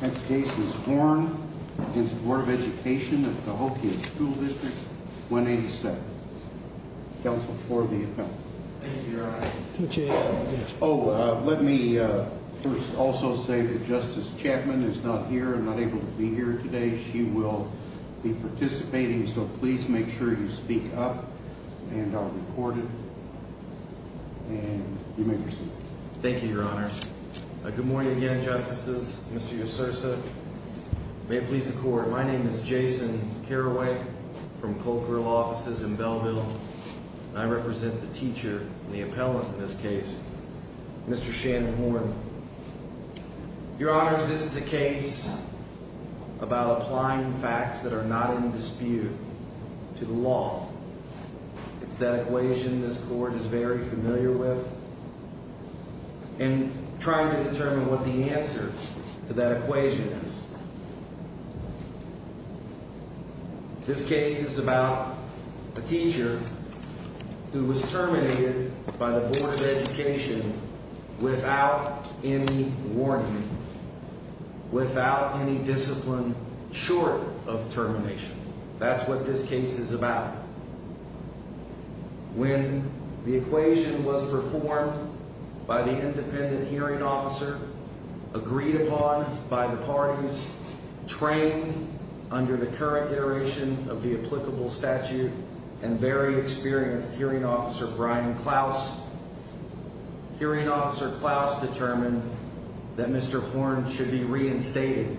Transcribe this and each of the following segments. This case is Horn v. Bd. of Education of Cahokia School Dist. 187 Counsel for the Appeal Thank you, Your Honor Oh, let me first also say that Justice Chapman is not here and not able to be here today She will be participating, so please make sure you speak up and are recorded And you may proceed Thank you, Your Honor Good morning again, Justices, Mr. Usursa May it please the Court My name is Jason Carraway from Colcord Law Offices in Belleville And I represent the teacher and the appellant in this case, Mr. Shannon Horn Your Honors, this is a case about applying facts that are not in dispute to the law It's that equation this Court is very familiar with And trying to determine what the answer to that equation is This case is about a teacher who was terminated by the Board of Education without any warning Without any discipline short of termination That's what this case is about When the equation was performed by the independent hearing officer Agreed upon by the parties Trained under the current iteration of the applicable statute And very experienced hearing officer, Brian Klaus Hearing officer Klaus determined that Mr. Horn should be reinstated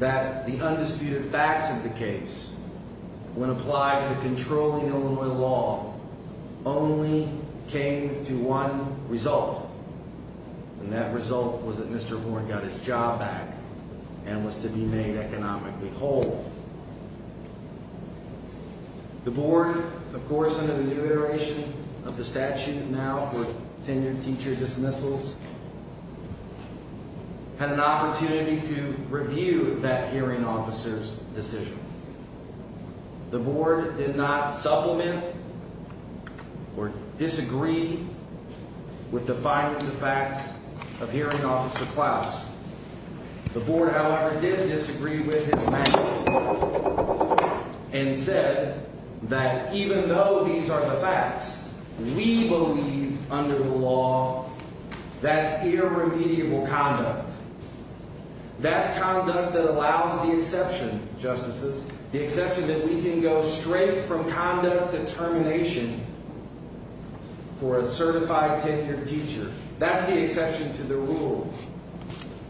That the undisputed facts of the case When applied to the controlling Illinois law Only came to one result And that result was that Mr. Horn got his job back And was to be made economically whole The Board, of course, under the new iteration of the statute Now for tenured teacher dismissals Had an opportunity to review that hearing officer's decision The Board did not supplement Or disagree with the findings of facts of hearing officer Klaus The Board, however, did disagree with his mandate And said that even though these are the facts We believe under the law That's irremediable conduct That's conduct that allows the exception, justices The exception that we can go straight from conduct to termination For a certified tenured teacher That's the exception to the rule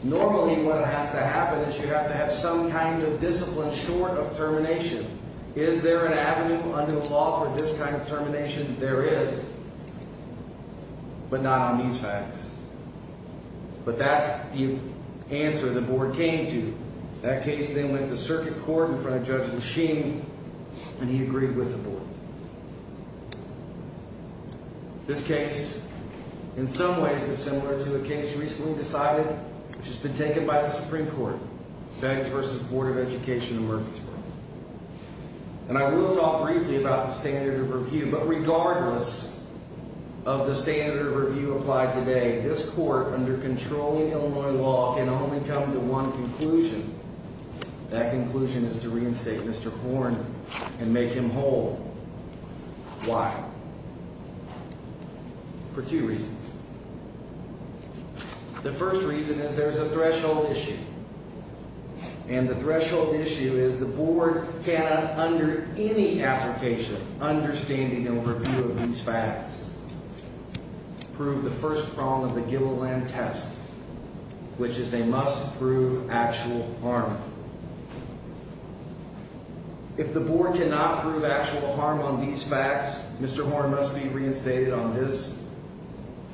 Normally what has to happen is you have to have some kind of discipline short of termination Is there an avenue under the law for this kind of termination? There is But not on these facts But that's the answer the Board came to That case then went to circuit court in front of Judge Maschini And he agreed with the Board This case, in some ways, is similar to a case recently decided Which has been taken by the Supreme Court Beggs v. Board of Education in Murfreesboro And I will talk briefly about the standard of review But regardless of the standard of review applied today This Court, under controlling Illinois law Can only come to one conclusion That conclusion is to reinstate Mr. Horn And make him whole Why? For two reasons The first reason is there's a threshold issue And the threshold issue is the Board Cannot, under any application Understanding and review of these facts Prove the first prong of the Gilliland Test Which is they must prove actual harm If the Board cannot prove actual harm on these facts Mr. Horn must be reinstated on this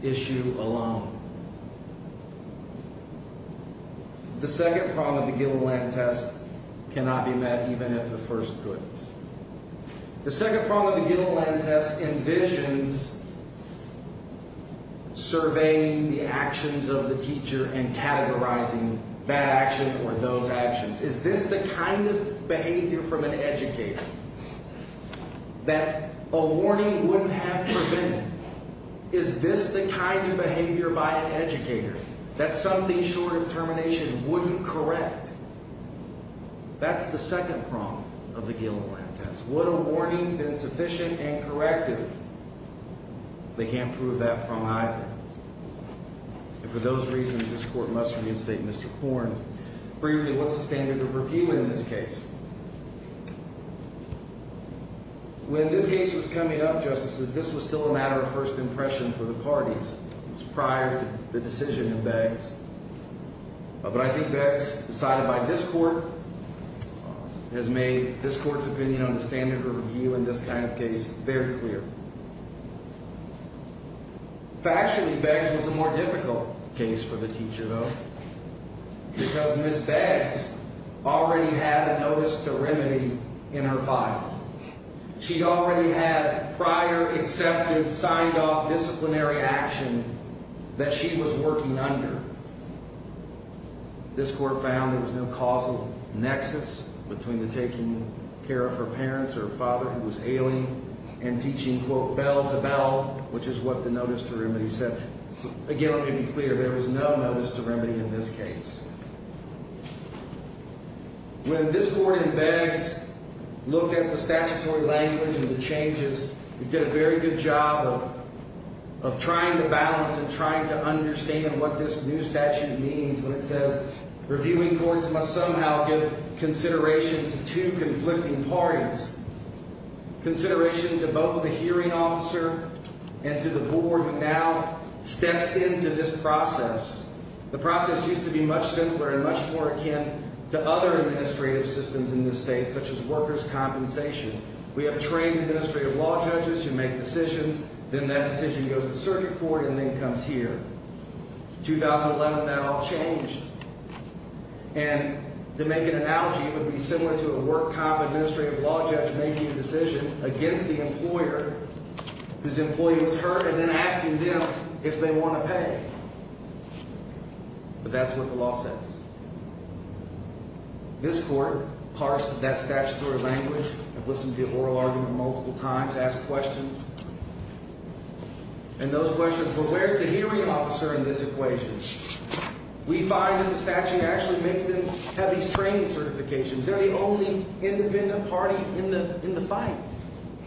issue alone The second prong of the Gilliland Test Cannot be met even if the first could The second prong of the Gilliland Test envisions Surveying the actions of the teacher And categorizing that action or those actions Is this the kind of behavior from an educator That a warning wouldn't have prevented? Is this the kind of behavior by an educator That something short of termination wouldn't correct? That's the second prong of the Gilliland Test Would a warning been sufficient and corrective? They can't prove that prong either And for those reasons, this Court must reinstate Mr. Horn Briefly, what's the standard of review in this case? When this case was coming up, Justices This was still a matter of first impression for the parties It was prior to the decision of Beggs But I think Beggs, decided by this Court Has made this Court's opinion on the standard of review In this kind of case very clear Factually, Beggs was a more difficult case for the teacher though Because Ms. Beggs already had a notice to remedy in her file She already had prior, accepted, signed off disciplinary action That she was working under This Court found there was no causal nexus Between the taking care of her parents or her father Who was ailing, and teaching, quote, bell to bell Which is what the notice to remedy said Again, let me be clear, there was no notice to remedy in this case When this Court in Beggs Looked at the statutory language and the changes It did a very good job of trying to balance And trying to understand what this new statute means When it says, reviewing courts must somehow give consideration To two conflicting parties Consideration to both the hearing officer And to the board that now steps into this process The process used to be much simpler and much more akin To other administrative systems in this state Such as workers' compensation We have trained administrative law judges who make decisions Then that decision goes to circuit court and then comes here In 2011, that all changed And to make an analogy, it would be similar To a work comp administrative law judge making a decision Against the employer whose employee was hurt And then asking them if they want to pay But that's what the law says This Court parsed that statutory language And listened to the oral argument multiple times Asked questions And those questions were, where's the hearing officer in this equation? We find that the statute actually makes them Have these training certifications They're the only independent party in the fight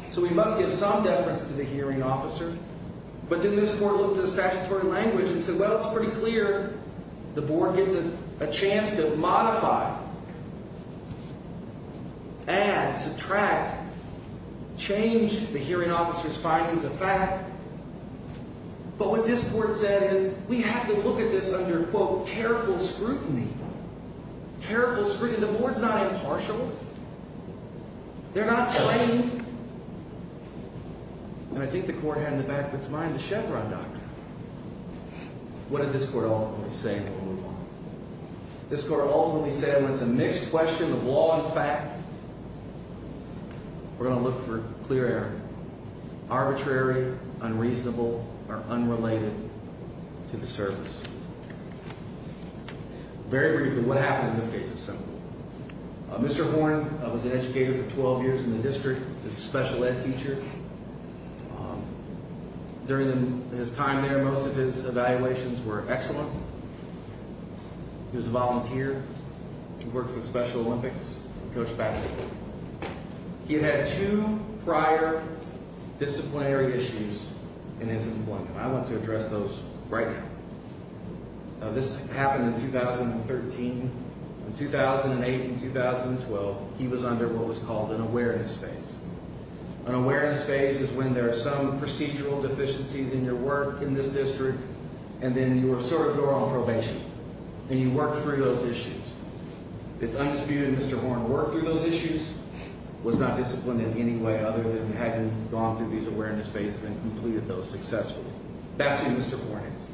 So we must give some deference to the hearing officer But then this Court looked at the statutory language And said, well, it's pretty clear The board gets a chance to modify Add, subtract, change The hearing officer's findings of fact But what this Court said is We have to look at this under, quote, careful scrutiny Careful scrutiny, the board's not impartial They're not plain And I think the Court had in the back of its mind The Chevron doctrine What did this Court ultimately say? This Court ultimately said When it's a mixed question of law and fact We're going to look for clear error Arbitrary, unreasonable, or unrelated To the service Very briefly, what happened in this case is simple Mr. Horn was an educator for 12 years in the district He was a special ed teacher During his time there Most of his evaluations were excellent He was a volunteer He worked for the Special Olympics, coached basketball He had two prior disciplinary issues In his employment I want to address those right now This happened in 2013 In 2008 and 2012, he was under what was called An awareness phase An awareness phase is when there are some Procedural deficiencies in your work in this district And then you sort of go on probation And you work through those issues It's undisputed Mr. Horn worked through those issues Was not disciplined in any way Other than having gone through these awareness phases And completed those successfully That's who Mr. Horn is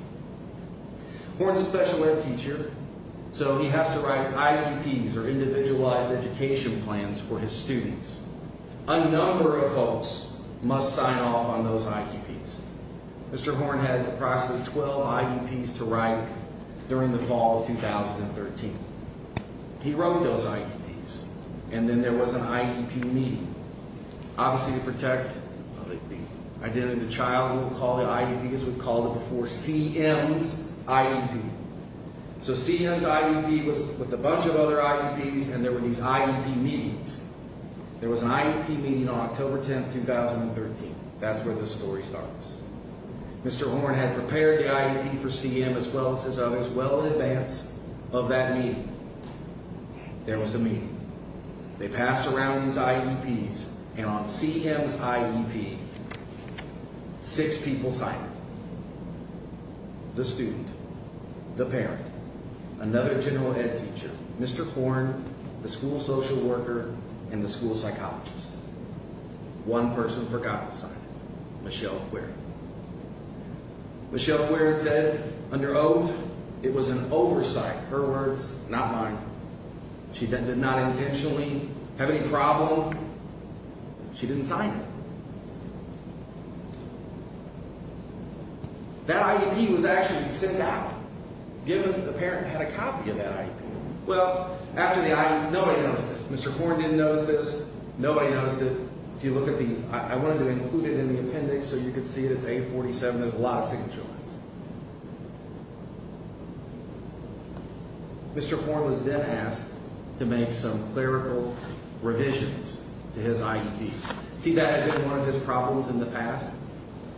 Horn is a special ed teacher So he has to write IEPs or Individualized Education Plans For his students A number of folks must sign off on those IEPs Mr. Horn had approximately 12 IEPs to write During the fall of 2013 He wrote those IEPs And then there was an IEP meeting Obviously to protect the identity of the child We would call it CM's IEP So CM's IEP was with a bunch of other IEPs And there were these IEP meetings There was an IEP meeting on October 10, 2013 That's where this story starts Mr. Horn had prepared the IEP for CM As well as others well in advance of that meeting There was a meeting They passed around these IEPs And on CM's IEP Six people signed it The student, the parent Another general ed teacher, Mr. Horn The school social worker and the school psychologist One person forgot to sign it Michelle Quirin Michelle Quirin said under oath It was an oversight, her words not mine She did not intentionally have any problem She didn't sign it That IEP was actually sent out Given that the parent had a copy of that IEP Well, after the IEP, nobody noticed it Mr. Horn didn't notice this, nobody noticed it I wanted to include it in the appendix so you could see it It's A47 with a lot of signature lines Mr. Horn was then asked To make some clerical revisions To his IEP See that has been one of his problems in the past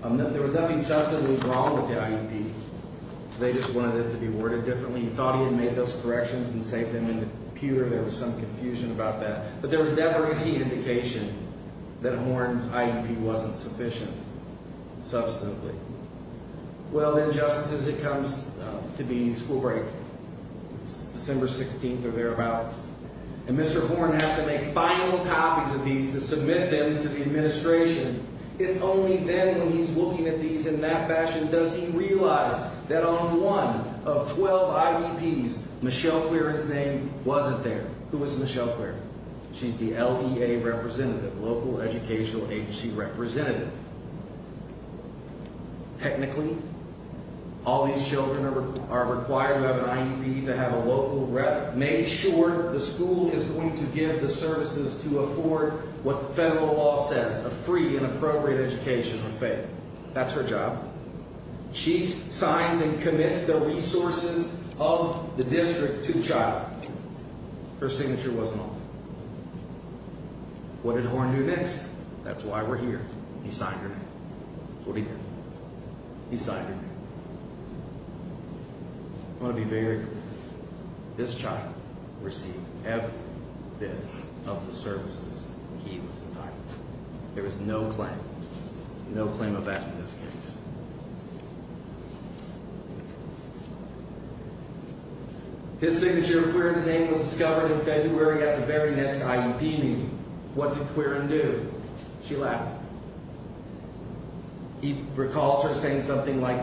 There was nothing substantially wrong with the IEP They just wanted it to be worded differently He thought he had made those corrections and saved them in the computer There was some confusion about that But there was never any indication that Horn's IEP wasn't sufficient Substantially Well then, just as it comes to being school break It's December 16th or thereabouts And Mr. Horn has to make final copies of these To submit them to the administration It's only then when he's looking at these in that fashion Does he realize that on one of 12 IEPs Michelle Quirin's name wasn't there Who was Michelle Quirin? She's the LEA representative Local Educational Agency representative Technically All these children are required to have an IEP To have a local rep Make sure the school is going to give the services to afford What the federal law says A free and appropriate education for Faith That's her job She signs and commits the resources Of the district to the child Her signature wasn't on it What did Horn do next? That's why we're here. He signed her name That's what he did. He signed her name I want to be very clear This child received F-BID Of the services he was entitled to There was no claim No claim of that in this case His signature Quirin's name was discovered in February At the very next IEP meeting What did Quirin do? She laughed He recalls her saying something like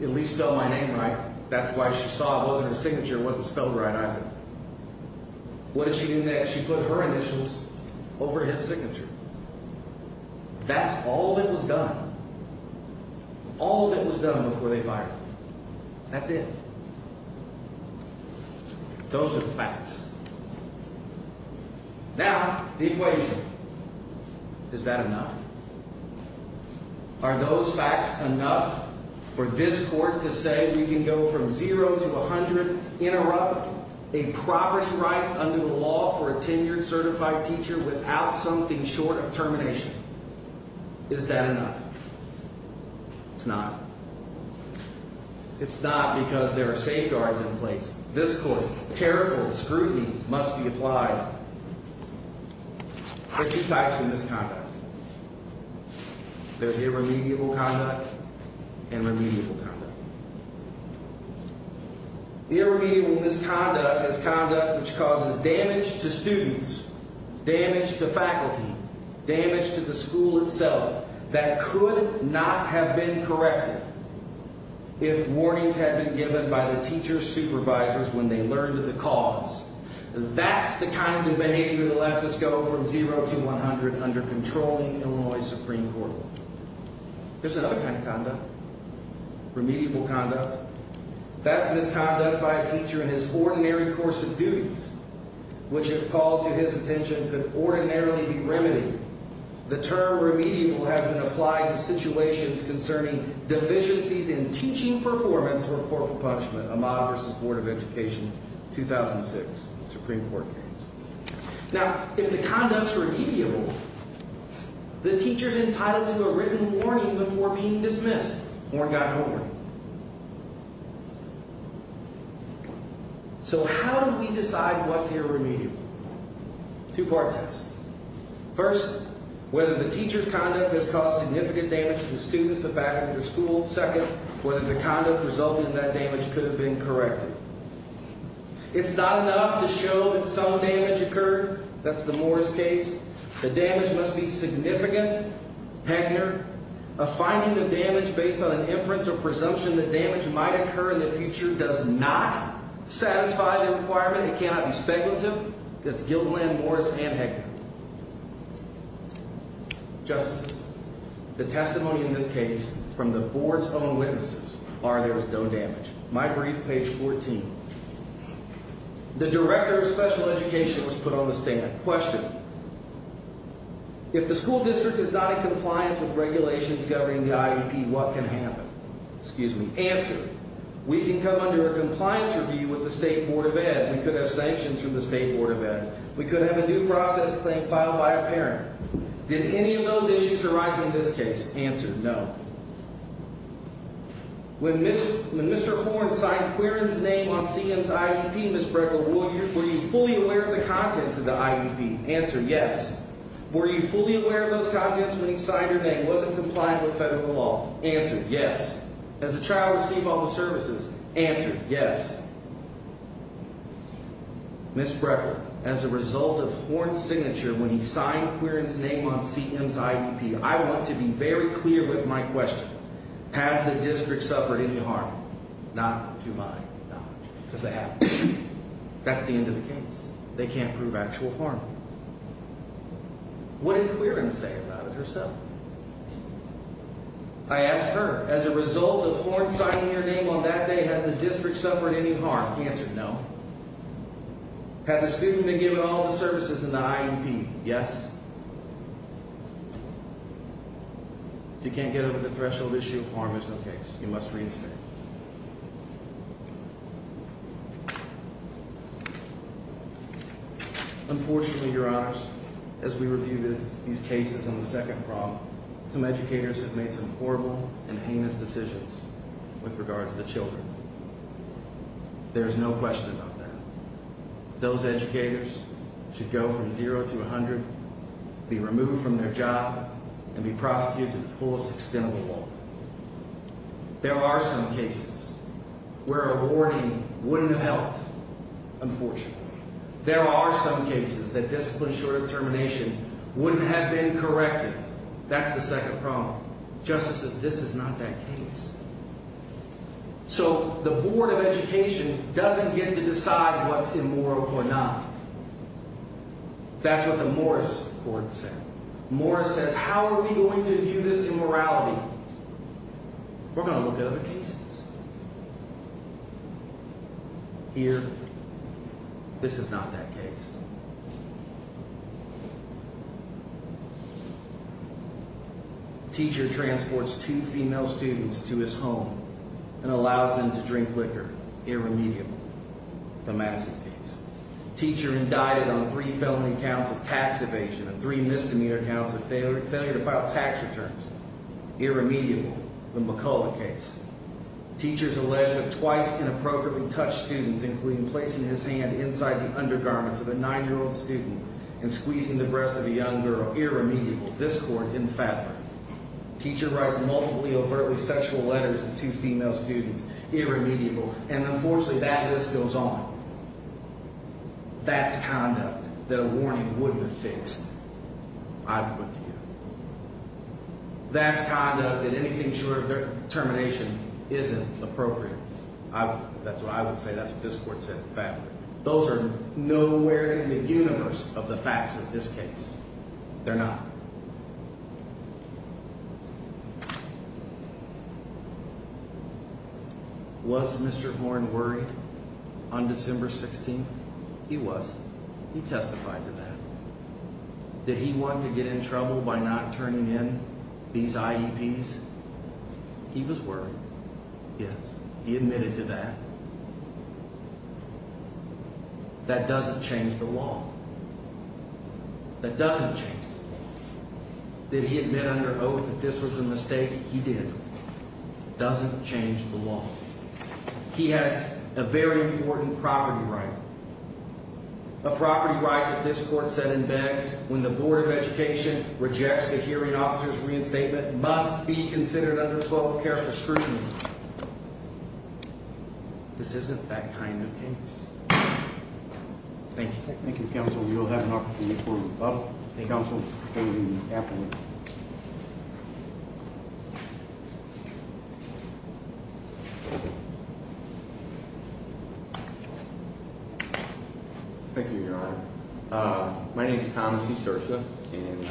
At least spell my name right That's why she saw it wasn't her signature Her signature wasn't spelled right either What did she do next? She put her initials Over his signature That's all that was done All that was done before they fired him That's it Those are the facts Now the equation Is that enough? Are those facts enough For this court to say we can go from Zero to a hundred Interrupt a property right under the law For a tenured certified teacher without something short of termination Is that enough? It's not It's not because there are safeguards in place This court careful scrutiny must be applied There are two types of misconduct There's irremediable conduct And remediable conduct Irremediable misconduct Is conduct which causes damage to students Damage to faculty Damage to the school itself That could not have been corrected If warnings had been given by the teacher supervisors When they learned of the cause That's the kind of behavior that lets us go from zero to one hundred Under controlling Illinois Supreme Court There's another kind of conduct Remediable conduct That's misconduct by a teacher in his ordinary course of duties Which if called to his attention could ordinarily be remedied The term remediable has been applied to situations Concerning deficiencies in teaching performance In the case of the Supreme Court case Now if the conduct is remediable The teacher is entitled to a written warning Before being dismissed So how do we decide what's irremediable? Two part test First whether the teacher's conduct Has caused significant damage to the students The faculty, the school Second, whether the conduct resulting in that damage Could have been corrected It's not enough to show that some damage occurred That's the Morris case The damage must be significant A finding of damage based on an inference or presumption That damage might occur in the future Does not satisfy the requirement It cannot be speculative The testimony in this case From the board's own witnesses Are there's no damage My brief, page 14 The director of special education was put on the stand Question If the school district is not in compliance with regulations Governing the IEP, what can happen? Answer We can come under a compliance review With the state board of ed We could have a new process claim filed by a parent Did any of those issues arise in this case? Answer, no When Mr. Horne signed Quirin's name on CM's IEP Were you fully aware of the contents of the IEP? Answer, yes Were you fully aware of those contents when he signed your name And wasn't compliant with federal law? Answer, yes As a child receive all the services? Answer, yes Ms. Brecker, as a result of Horne's signature When he signed Quirin's name on CM's IEP I want to be very clear with my question Has the district suffered any harm? Not to my knowledge Because they haven't That's the end of the case They can't prove actual harm What did Quirin say about it herself? I asked her, as a result of Horne signing your name on that day Has the district suffered any harm? Answer, no Has the student been given all the services in the IEP? Yes If you can't get over the threshold issue Harm is no case You must reinstate Unfortunately, your honors As we review these cases on the second problem Some educators have made some horrible and heinous decisions With regards to children There is no question about that Those educators should go from 0 to 100 Be removed from their job And be prosecuted to the fullest extent of the law There are some cases Where a warning wouldn't have helped Unfortunately There are some cases that discipline short of termination Wouldn't have been corrected That's the second problem Justices, this is not that case So the board of education Doesn't get to decide what's immoral or not That's what the Morris court said Morris says, how are we going to view this immorality? We're going to look at other cases Here This is not that case Teacher transports two female students To his home And allows them to drink liquor The Madison case Teacher indicted on three felony counts of tax evasion And three misdemeanor counts of failure to file tax returns The McCullough case Teachers allege that twice inappropriately touched students Including placing his hand inside the undergarments Of a nine-year-old student And squeezing the breast of a young girl Irremediable, this court didn't fathom it Teacher writes multiple overtly sexual letters to two female students Irremediable, and unfortunately that list goes on That's conduct That a warning wouldn't have fixed That's conduct That anything short of termination isn't appropriate I would say that's what this court said Those are nowhere in the universe of the facts of this case They're not Was Mr. Horn worried on December 16th? He wasn't He testified to that Did he want to get in trouble by not turning in these IEPs? He was worried, yes He admitted to that That doesn't change the law That doesn't change the law Did he admit under oath that this was a mistake? He did It doesn't change the law He has a very important property right A property right that this court said in Beggs When the Board of Education rejects the hearing officer's reinstatement That must be considered under 12-character scrutiny This isn't that kind of case Thank you Thank you, counsel We will have an opportunity for a rebuttal Thank you, counsel Thank you, your honor My name is Thomas Esursa And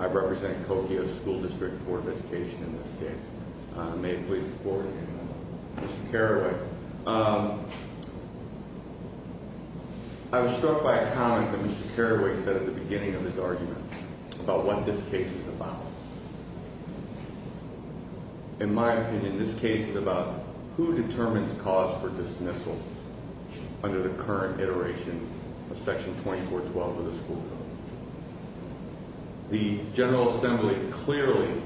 I represent Coquio School District And I represent the Board of Education in this case May it please the Court Mr. Carraway I was struck by a comment that Mr. Carraway said At the beginning of his argument About what this case is about In my opinion, this case is about Who determines cause for dismissal Under the current iteration of Section 2412 of the school code The General Assembly clearly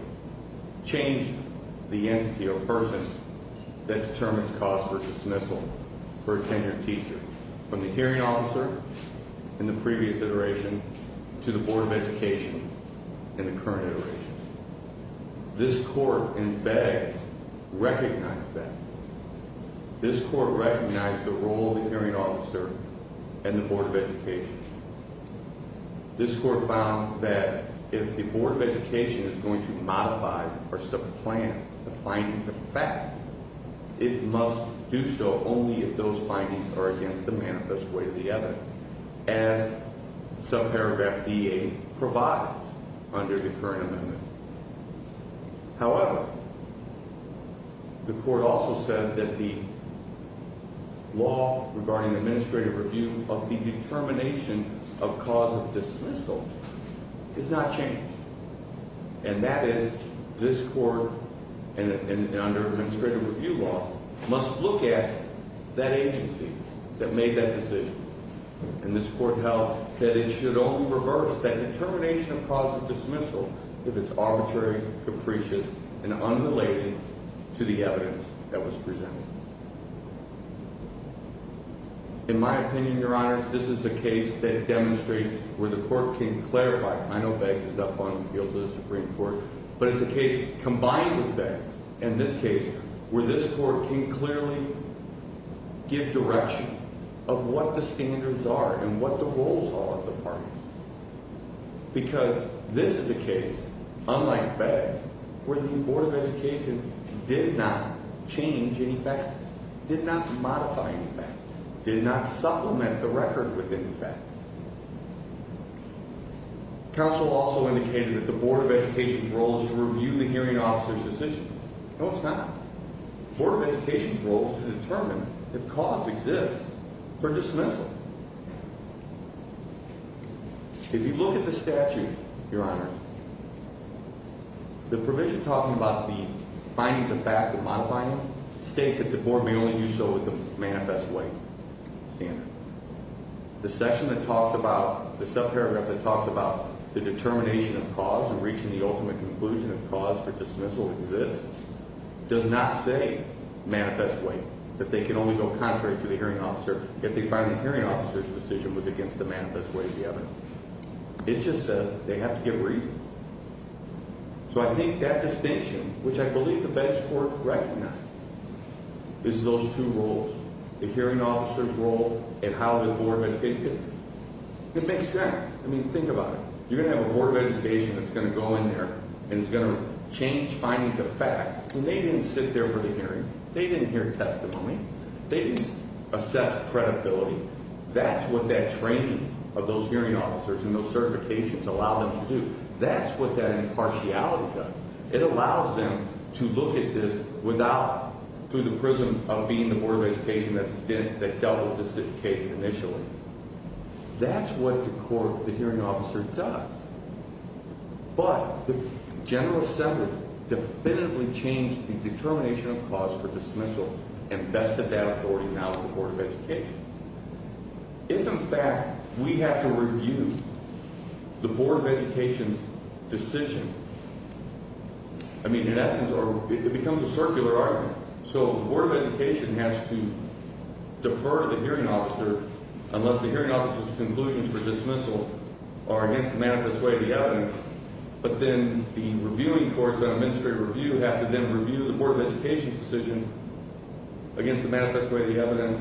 Changed the entity or person That determines cause for dismissal For a tenured teacher From the hearing officer in the previous iteration To the Board of Education in the current iteration This court in Beggs Recognized that This court recognized the role of the hearing officer And the Board of Education This court found that if the Board of Education Is going to modify or supplant The findings of effect It must do so only if those findings are against the manifest way Of the evidence As subparagraph DA provides Under the current amendment However, the court also said that the Law regarding administrative review Of the determination of cause of dismissal Is not changed And that is, this court Under administrative review law Must look at that agency that made that decision And this court held that it should only reverse That determination of cause of dismissal If it's arbitrary, capricious, and unrelated To the evidence that was presented In my opinion, your honors This is a case that demonstrates Where the court can clarify I know Beggs is up on the field of the Supreme Court But it's a case combined with Beggs In this case where this court can clearly Give direction of what the standards are And what the roles are of the parties Because this is a case Unlike Beggs where the Board of Education Did not change any facts Did not modify any facts Did not supplement the record with any facts Counsel also indicated that the Board of Education's role Is to review the hearing officer's decision No it's not The Board of Education's role is to determine if cause exists For dismissal If you look at the statute, your honors The provision talking about Finding the fact and modifying it States that the Board may only do so with the manifest way The section that talks about The subparagraph that talks about the determination of cause And reaching the ultimate conclusion of cause for dismissal Does not say manifest way That they can only go contrary to the hearing officer If they find the hearing officer's decision was against the manifest way It just says they have to give reason So I think that distinction Which I believe the Beggs Court recognized Is those two roles The hearing officer's role and how the Board of Education It makes sense, I mean think about it You're going to have a Board of Education that's going to go in there And is going to change findings of facts And they didn't sit there for the hearing, they didn't hear testimony They didn't assess credibility That's what that training of those hearing officers And those certifications allow them to do That's what that impartiality does It allows them to look at this without Through the prism of being the Board of Education That doubles the case initially That's what the hearing officer does But the General Assembly Definitively changed the determination of cause for dismissal And vested that authority now in the Board of Education If in fact We have to review the Board of Education's decision I mean in essence It becomes a circular argument So the Board of Education has to Unless the hearing officer's conclusions for dismissal Are against the manifest way of the evidence But then the reviewing courts on administrative review Have to then review the Board of Education's decision Against the manifest way of the evidence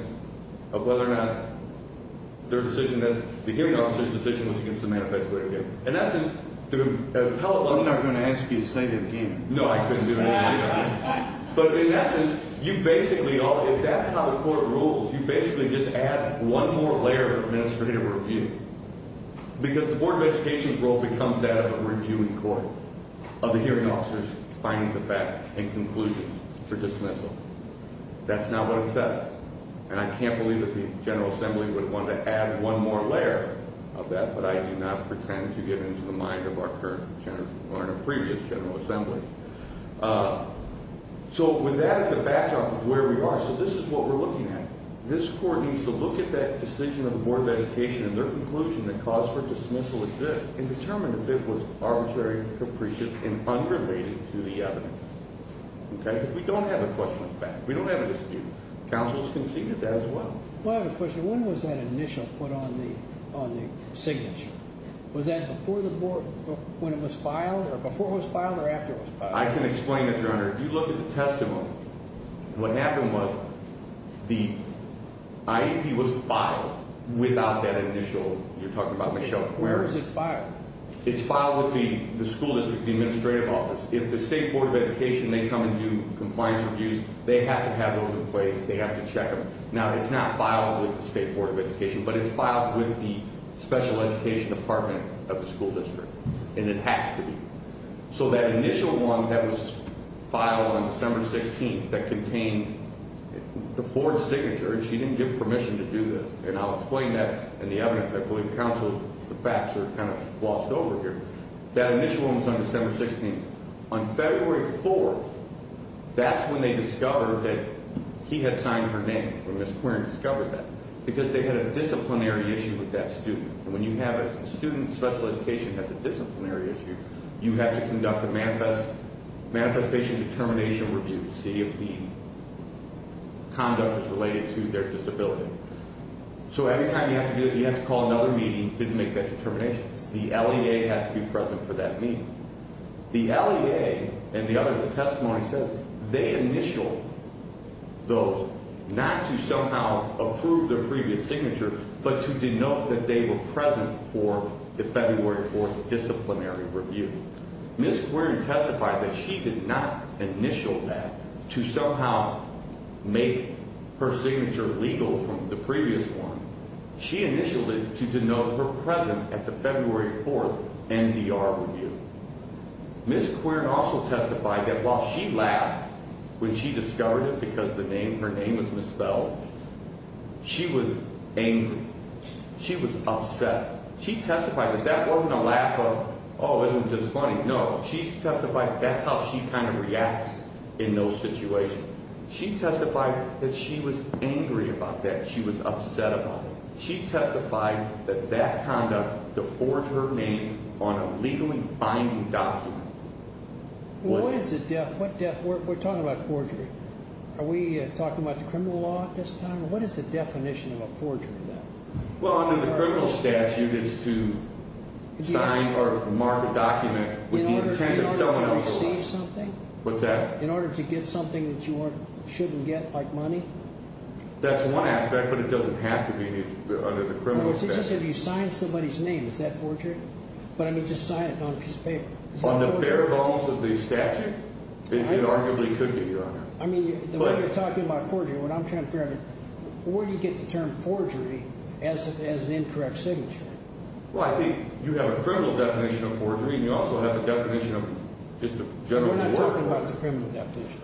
Of whether or not their decision The hearing officer's decision was against the manifest way of the evidence I'm not going to ask you to say that again No I couldn't do it again But in essence If that's how the court rules You basically just add one more layer of administrative review Because the Board of Education's role becomes that of a reviewing court Of the hearing officer's findings of fact And conclusions for dismissal That's not what it says And I can't believe that the General Assembly would want to add one more layer Of that but I do not pretend to get into the mind of our current Or our previous General Assembly So with that as a backdrop of where we are So this is what we're looking at This court needs to look at that decision of the Board of Education And their conclusion that cause for dismissal exists And determine if it was arbitrary and capricious And unrelated to the evidence We don't have a question of fact We don't have a dispute Counsel's conceded that as well I have a question, when was that initial put on the signature? Was that before the board, when it was filed Or before it was filed or after it was filed? I can explain it your honor, if you look at the testimony What happened was the IEP was filed Without that initial, you're talking about Michelle Where was it filed? It's filed with the school district administrative office If the state board of education they come and do compliance reviews They have to have those in place, they have to check them Now it's not filed with the state board of education But it's filed with the special education department of the school district And it has to be So that initial one that was filed on December 16th That contained the board's signature And she didn't give permission to do this And I'll explain that and the evidence I believe counsel's facts are kind of glossed over here That initial one was on December 16th On February 4th, that's when they discovered That he had signed her name, when Ms. Quirin discovered that Because they had a disciplinary issue with that student And when you have a student, special education has a disciplinary issue You have to conduct a Manifestation determination review to see if the Conduct is related to their disability So every time you have to do that, you have to call another meeting To make that determination. The LEA has to be present For that meeting. The LEA And the other testimony says they initialed Those not to somehow approve Their previous signature but to denote that they were present For the February 4th disciplinary review Ms. Quirin testified that she did not Initial that to somehow Make her signature legal from the previous one She initialed it to denote her present At the February 4th NDR review Ms. Quirin also testified That while she laughed when she discovered it Because her name was misspelled She was angry. She was upset She testified that that wasn't a laugh of Oh, isn't this funny? No. She testified that's how she Kind of reacts in those situations She testified that she was angry about that She was upset about it. She testified that that Conduct to forge her name on a legally Binding document We're talking about forgery Are we talking about the criminal law at this time? What is the definition of a forgery? Well, under the criminal statute, it's to sign or Receive something in order to get something That you shouldn't get like money That's one aspect, but it doesn't have to be Under the criminal statute. It's just that you sign somebody's name. Is that forgery? But, I mean, just sign it on a piece of paper On the bare bones of the statute, it arguably could be, Your Honor I mean, the way you're talking about forgery What I'm trying to figure out is where do you get the term forgery As an incorrect signature? Well, I think you have a criminal definition of forgery And you also have the definition of just a general We're not talking about the criminal definition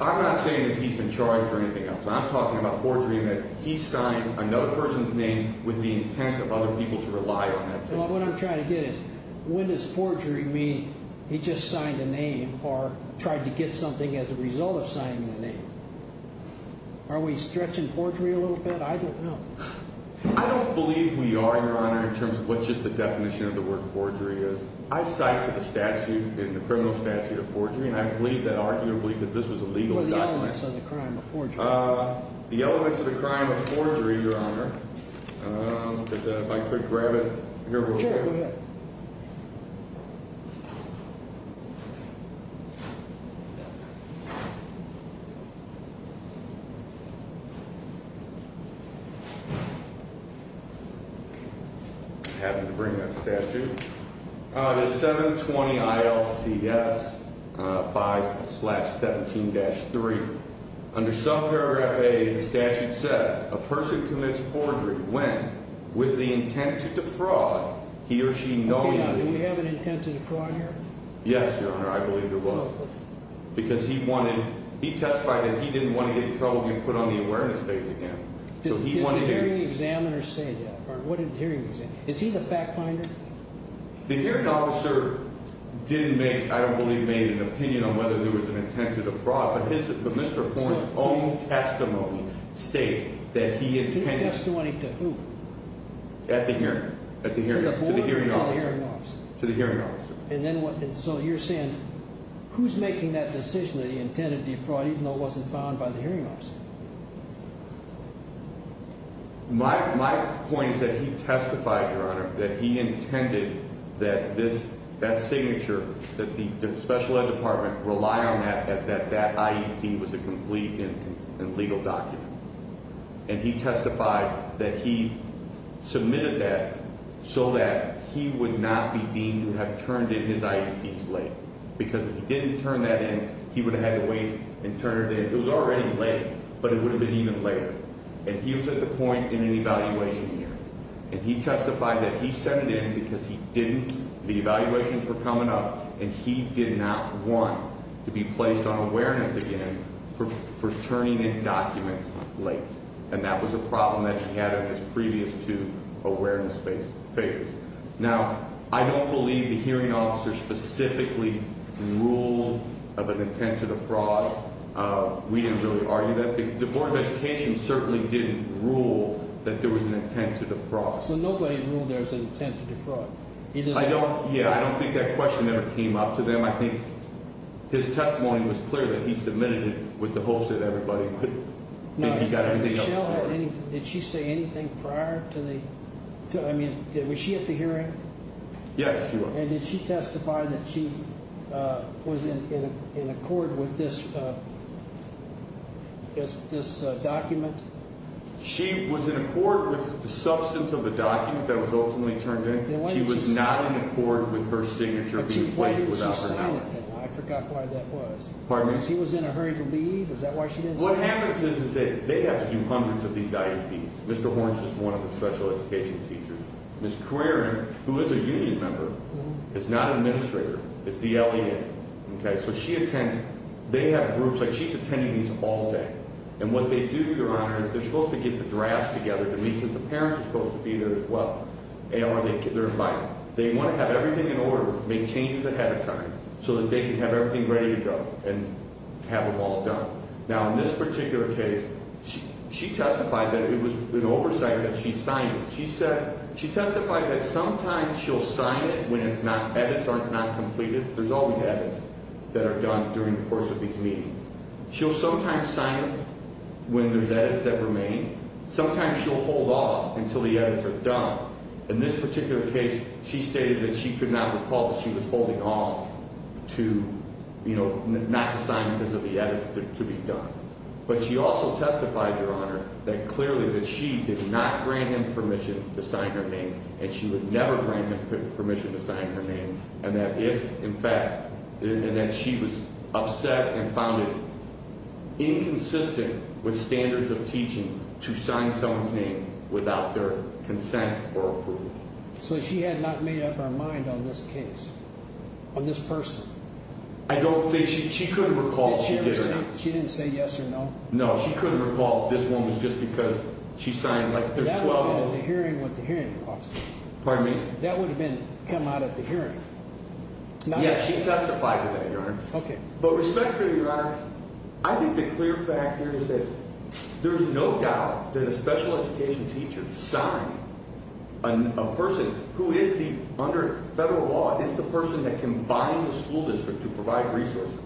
I'm not saying that he's been charged for anything else. I'm talking about forgery And that he signed another person's name with the intent of other people To rely on that signature. Well, what I'm trying to get is When does forgery mean he just signed a name Or tried to get something as a result of signing a name? Are we stretching forgery a little bit? I don't know. I don't believe we are, Your Honor In terms of what just the definition of the word forgery is I cite to the statute, in the criminal statute, of forgery And I believe that arguably, because this was a legal document What are the elements of the crime of forgery? The elements of the crime of forgery, Your Honor If I could grab it I'm happy to bring that statute The 720 ILCS 5-17-3 Under subparagraph A The statute says A person commits forgery when With the intent to defraud He or she knowingly Okay, now do we have an intent to defraud here? Yes, Your Honor, I believe there was Because he testified that he didn't want to get in trouble And get put on the awareness base again Did the hearing examiner say that? Is he the fact finder? The hearing officer didn't make, I don't believe, make an opinion On whether there was an intent to defraud But Mr. Horne's own testimony states that he intended To the testimony to who? To the hearing officer And so you're saying Who's making that decision that he intended to defraud Even though it wasn't found by the hearing officer? My point is that he testified, Your Honor That he intended that this That signature, that the special ed department Rely on that as that IEP was a complete And legal document And he testified that he submitted that So that he would not be deemed to have turned in his IEPs late Because if he didn't turn that in He would have had to wait and turn it in It was already late, but it would have been even later And he was at the point in an evaluation year And he testified that he sent it in because he didn't The evaluations were coming up And he did not want to be placed on awareness again For turning in documents late And that was a problem that he had in his previous two Awareness phases Now, I don't believe the hearing officer specifically Ruled of an intent to defraud We didn't really argue that The Board of Education certainly didn't rule That there was an intent to defraud So nobody ruled there was an intent to defraud? Yeah, I don't think that question ever came up to them I think his testimony was clear that he submitted it With the hopes that everybody would Did she say anything prior to the I mean, was she at the hearing? Yes, she was And did she testify that she was in accord with this This document? She was in accord with the substance of the document That was ultimately turned in She was not in accord with her signature But why didn't she sign it? I forgot why that was She was in a hurry to leave? Is that why she didn't sign it? What happens is that they have to do hundreds of these IEPs Mr. Horne is just one of the special education teachers Ms. Carreron, who is a union member Is not an administrator, it's the LEA They have groups, like she's attending these all day And what they do, Your Honor, is they're supposed to get the drafts together They want to have everything in order Make changes ahead of time So that they can have everything ready to go And have them all done Now, in this particular case, she testified That it was an oversight that she signed it She testified that sometimes she'll sign it When edits are not completed There's always edits that are done during the course of each meeting She'll sometimes sign it when there's edits that remain Sometimes she'll hold off until the edits are done In this particular case, she stated That she could not recall that she was holding off Not to sign because of the edits to be done But she also testified, Your Honor That clearly that she did not grant him permission To sign her name, and she would never grant him permission To sign her name, and that if, in fact And that she was upset and found it Inconsistent with standards of teaching To sign someone's name without their consent Or approval So she had not made up her mind on this case On this person I don't think, she couldn't recall She didn't say yes or no No, she couldn't recall that this one was just because She signed, like, there's 12 Pardon me? Yes, she testified to that, Your Honor But respectfully, Your Honor I think the clear fact here is that there's no doubt That a special education teacher signed A person who is the, under federal law Is the person that can bind the school district to provide resources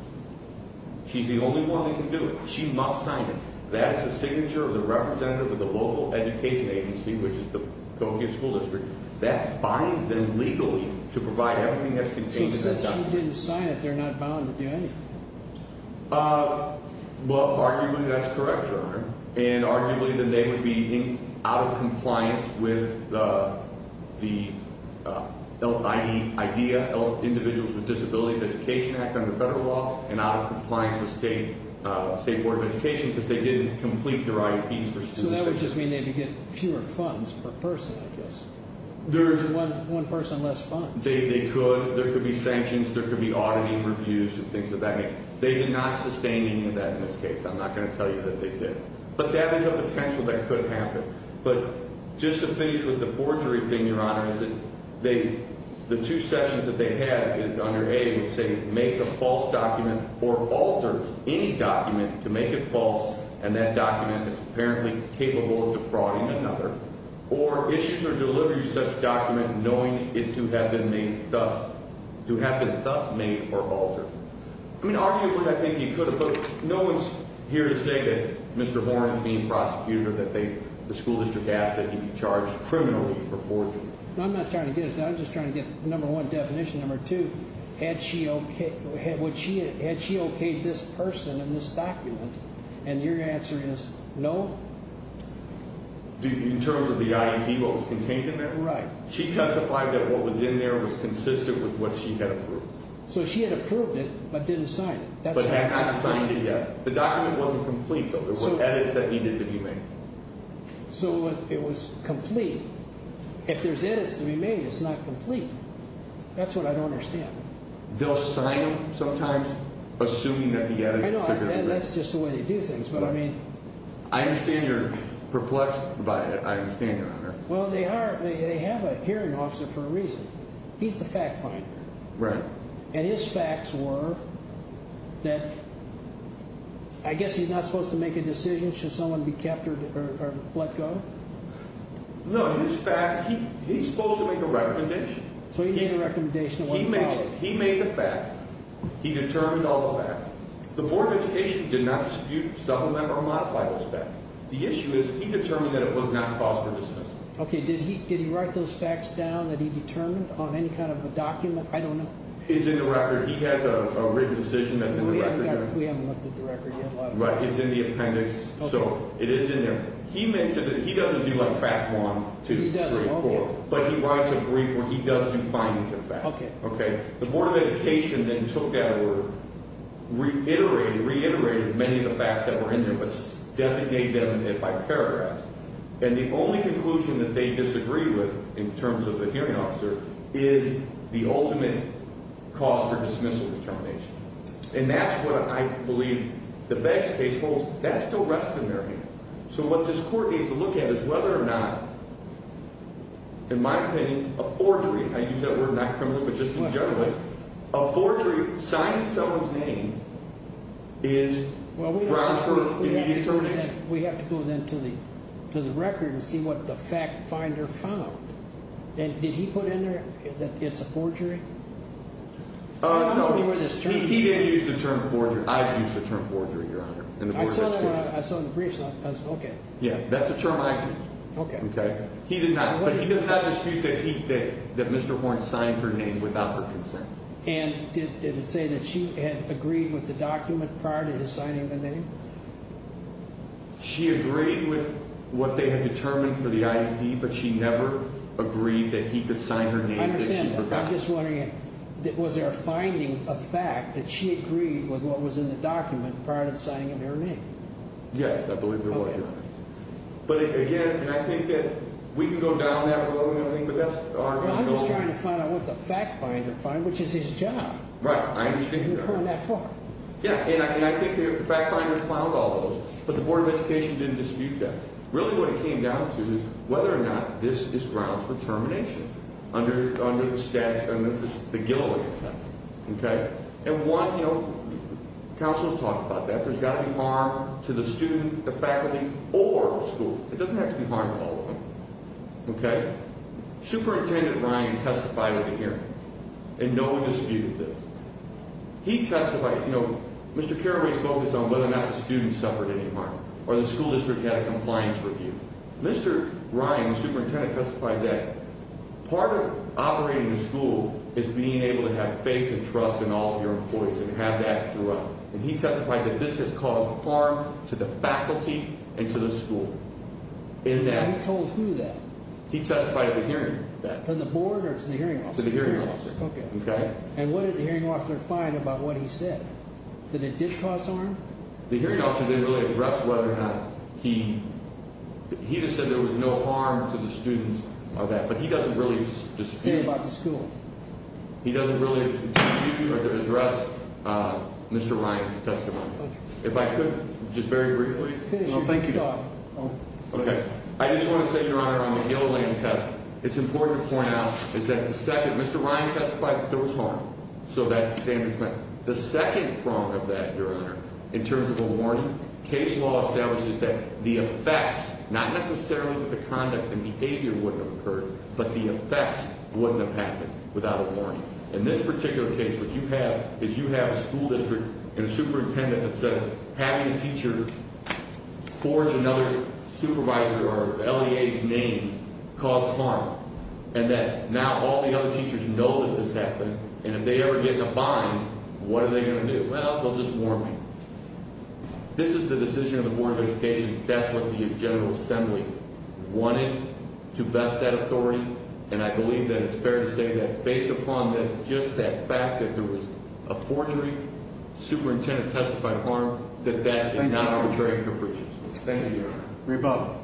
She's the only one that can do it She must sign it That's the signature of the representative of the local education agency Which is the Coquia School District That binds them legally to provide everything that's contained in that document So since she didn't sign it, they're not bound to do anything Well, arguably that's correct, Your Honor And arguably they would be out of compliance With the IDEA, Individuals with Disabilities Education Act Under federal law and out of compliance with state Board of Education because they didn't complete their IEPs So that would just mean they'd get fewer funds per person, I guess One person less funds They could, there could be sanctions, there could be auditing reviews And things of that nature. They did not sustain any of that in this case I'm not going to tell you that they did But that is a potential that could happen But just to finish with the forgery thing, Your Honor Is that they, the two sessions that they had Under A would say makes a false document Or alters any document to make it false And that document is apparently capable of defrauding another Or issues or delivers such document Knowing it to have been made thus To have been thus made or altered I mean arguably I think you could have, but no one's here to say that Mr. Horne is being prosecuted or that they The school district asked that he be charged criminally for forgery No I'm not trying to get it done, I'm just trying to get Number one definition, number two Had she okayed this person in this document And your answer is no? In terms of the IEP what was contained in that? Right She testified that what was in there was consistent With what she had approved. So she had approved it But didn't sign it. But had not signed it yet The document wasn't complete, but there were edits that needed to be made So it was complete If there's edits to be made, it's not complete That's what I don't understand They'll sign them sometimes, assuming that the edits are good That's just the way they do things, but I mean I understand you're perplexed by it, I understand that Well they have a hearing officer for a reason He's the fact finder And his facts were That I guess he's not supposed to make a decision Should someone be captured or let go No, his fact, he's supposed to make a recommendation So he made a recommendation He made the facts, he determined all the facts The board of education did not dispute, supplement or modify those facts The issue is he determined that it was not cause for dismissal Okay, did he write those facts down That he determined on any kind of a document, I don't know It's in the record, he has a written decision that's in the record We haven't looked at the record yet It's in the appendix, so it is in there He doesn't do like fact 1, 2, 3, 4 But he writes a brief where he does do findings of facts The board of education then took that word Reiterated many of the facts that were in there But designated them by paragraphs And the only conclusion that they disagree with In terms of the hearing officer Is the ultimate cause for dismissal determination And that's what I believe the best case holds That still rests in their hands So what this court needs to look at is whether or not In my opinion, a forgery I use that word not criminally but just in general A forgery signing someone's name is grounds for immediate termination We have to go then to the record And see what the fact finder found Did he put in there that it's a forgery? No, he didn't use the term forgery I've used the term forgery, your honor I saw it in the briefs, okay That's a term I've used But he does not dispute that Mr. Horne signed her name without her consent And did it say that she had agreed with the document Prior to his signing the name? She agreed with what they had determined for the ID But she never agreed that he could sign her name I understand, I'm just wondering Was there a finding of fact that she agreed with what was in the document Prior to signing her name? Yes, I believe there was But again, I think that we can go down that road I'm just trying to find out what the fact finder found, which is his job Right, I understand Yeah, and I think the fact finder found all of those But the Board of Education didn't dispute that Really what it came down to is whether or not this is grounds for termination Under the Gilliland Act Counselors talk about that There's got to be harm to the student, the faculty Or the school, it doesn't have to be harm to all of them Superintendent Ryan testified at a hearing And no one disputed this Mr. Carraway's focus on whether or not the student suffered any harm Or the school district had a compliance review Mr. Ryan, the superintendent testified that Part of operating the school Is being able to have faith and trust in all of your employees And have that throughout And he testified that this has caused harm to the faculty and to the school He told who that? He testified at the hearing To the Board or to the hearing officer? To the hearing officer And what did the hearing officer find about what he said? That it did cause harm? The hearing officer didn't really address whether or not he He just said there was no harm to the students But he doesn't really dispute He doesn't really dispute or address Mr. Ryan's testimony If I could just very briefly I just want to say, your honor On the Gilliland test It's important to point out Mr. Ryan testified that there was harm The second prong of that, your honor In terms of a warning Case law establishes that the effects Not necessarily that the conduct and behavior wouldn't have occurred But the effects wouldn't have happened without a warning In this particular case, what you have Is you have a school district and a superintendent that says Having a teacher forge another supervisor Or LEA's name caused harm And that now all the other teachers know that this happened And if they ever get in a bind, what are they going to do? Well, they'll just warn me This is the decision of the Board of Education That's what the General Assembly wanted to vest that authority And I believe that it's fair to say that based upon this Just that fact that there was a forgery Superintendent testified of harm That that is not arbitrary Thank you, your honor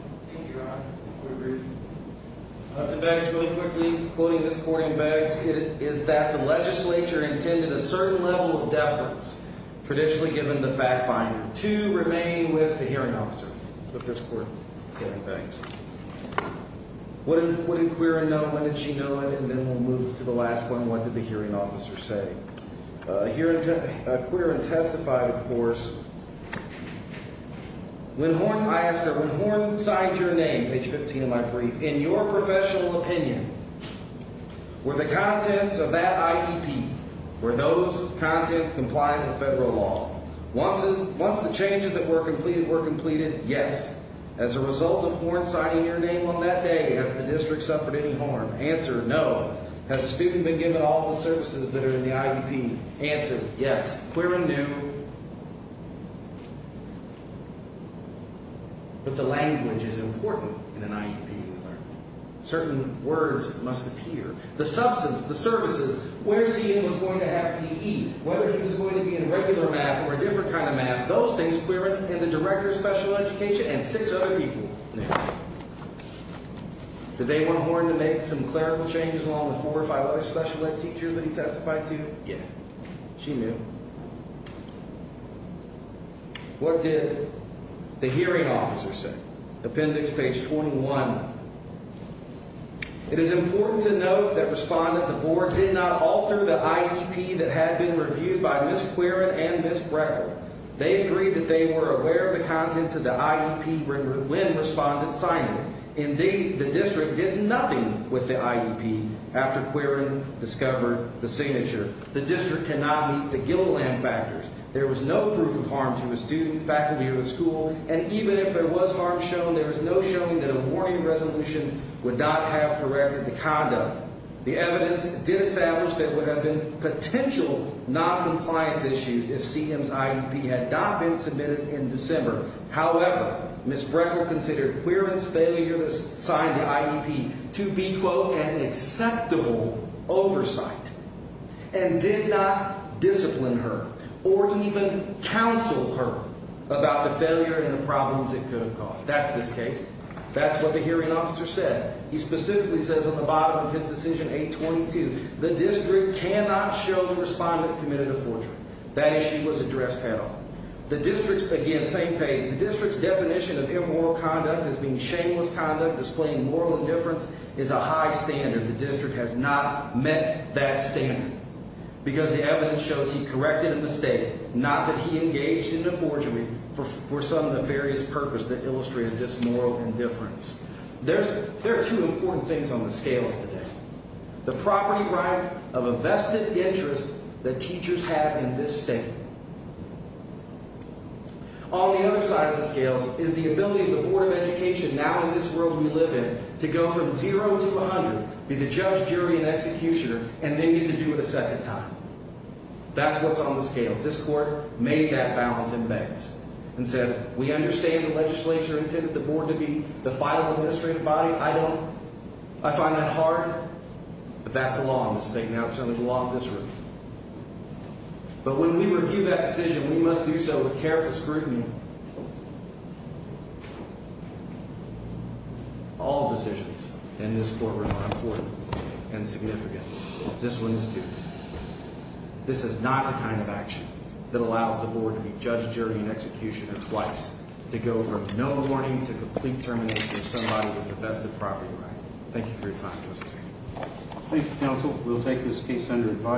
The facts really quickly, quoting this court in Beggs Is that the legislature intended a certain level of deference Traditionally given the fact finder To remain with the hearing officer But this court said things What did Quirin know? When did she know it? And then we'll move to the last one. What did the hearing officer say? Quirin testified, of course When Horne I ask her, when Horne signed your name, page 15 of my brief In your professional opinion Were the contents of that IEP Were those contents compliant with federal law? Once the changes that were completed were completed Yes. As a result of Horne signing your name on that day Has the district suffered any harm? Answer, no. Has the student been given all the services that are in the IEP? Answer, yes. Quirin knew But the language is important in an IEP Certain words must appear The substance, the services Where was he going to have PE? Whether he was going to be in regular math or a different kind of math Those things, Quirin and the director of special education And six other people Did they want Horne to make some clarifying changes Along with four or five other special ed teachers that he testified to? Yes. She knew What did the hearing officer say? Appendix, page 21 It is important to note That Respondent DeBoer did not alter the IEP That had been reviewed by Ms. Quirin and Ms. Breckel They agreed that they were aware of the contents of the IEP When Respondent signed it Indeed, the district did nothing with the IEP After Quirin discovered the signature The district cannot meet the Gilliland factors There was no proof of harm to the student, faculty, or the school And even if there was harm shown There was no showing that a warning resolution would not have corrected the conduct The evidence did establish that there would have been Potential non-compliance issues If CM's IEP had not been submitted in December However, Ms. Breckel considered Quirin's failure To sign the IEP to be An acceptable oversight And did not discipline her Or even counsel her About the failure and the problems it could have caused That's what the hearing officer said He specifically says at the bottom of his decision, 822 The district cannot show the Respondent committed a forgery That issue was addressed at all The district's definition of immoral conduct As being shameless conduct displaying moral indifference Is a high standard. The district has not met that standard Because the evidence shows he corrected a mistake Not that he engaged in a forgery For some nefarious purpose that illustrated this moral indifference There are two important things on the scales today The property right of a vested interest That teachers have in this state On the other side of the scales Is the ability of the Board of Education Now in this world we live in to go from 0 to 100 Be the judge, jury, and executioner And then get to do it a second time That's what's on the scales. This court made that balance in banks And said we understand the legislature intended the Board to be The final administrative body I find that hard But that's the law in this state But when we review that decision We must do so with careful scrutiny All decisions in this courtroom Are important and significant This one is too This is not the kind of action that allows the Board To be judge, jury, and executioner twice To go from no warning to complete termination Of somebody with a vested property right Thank you for your time Mr. Chairman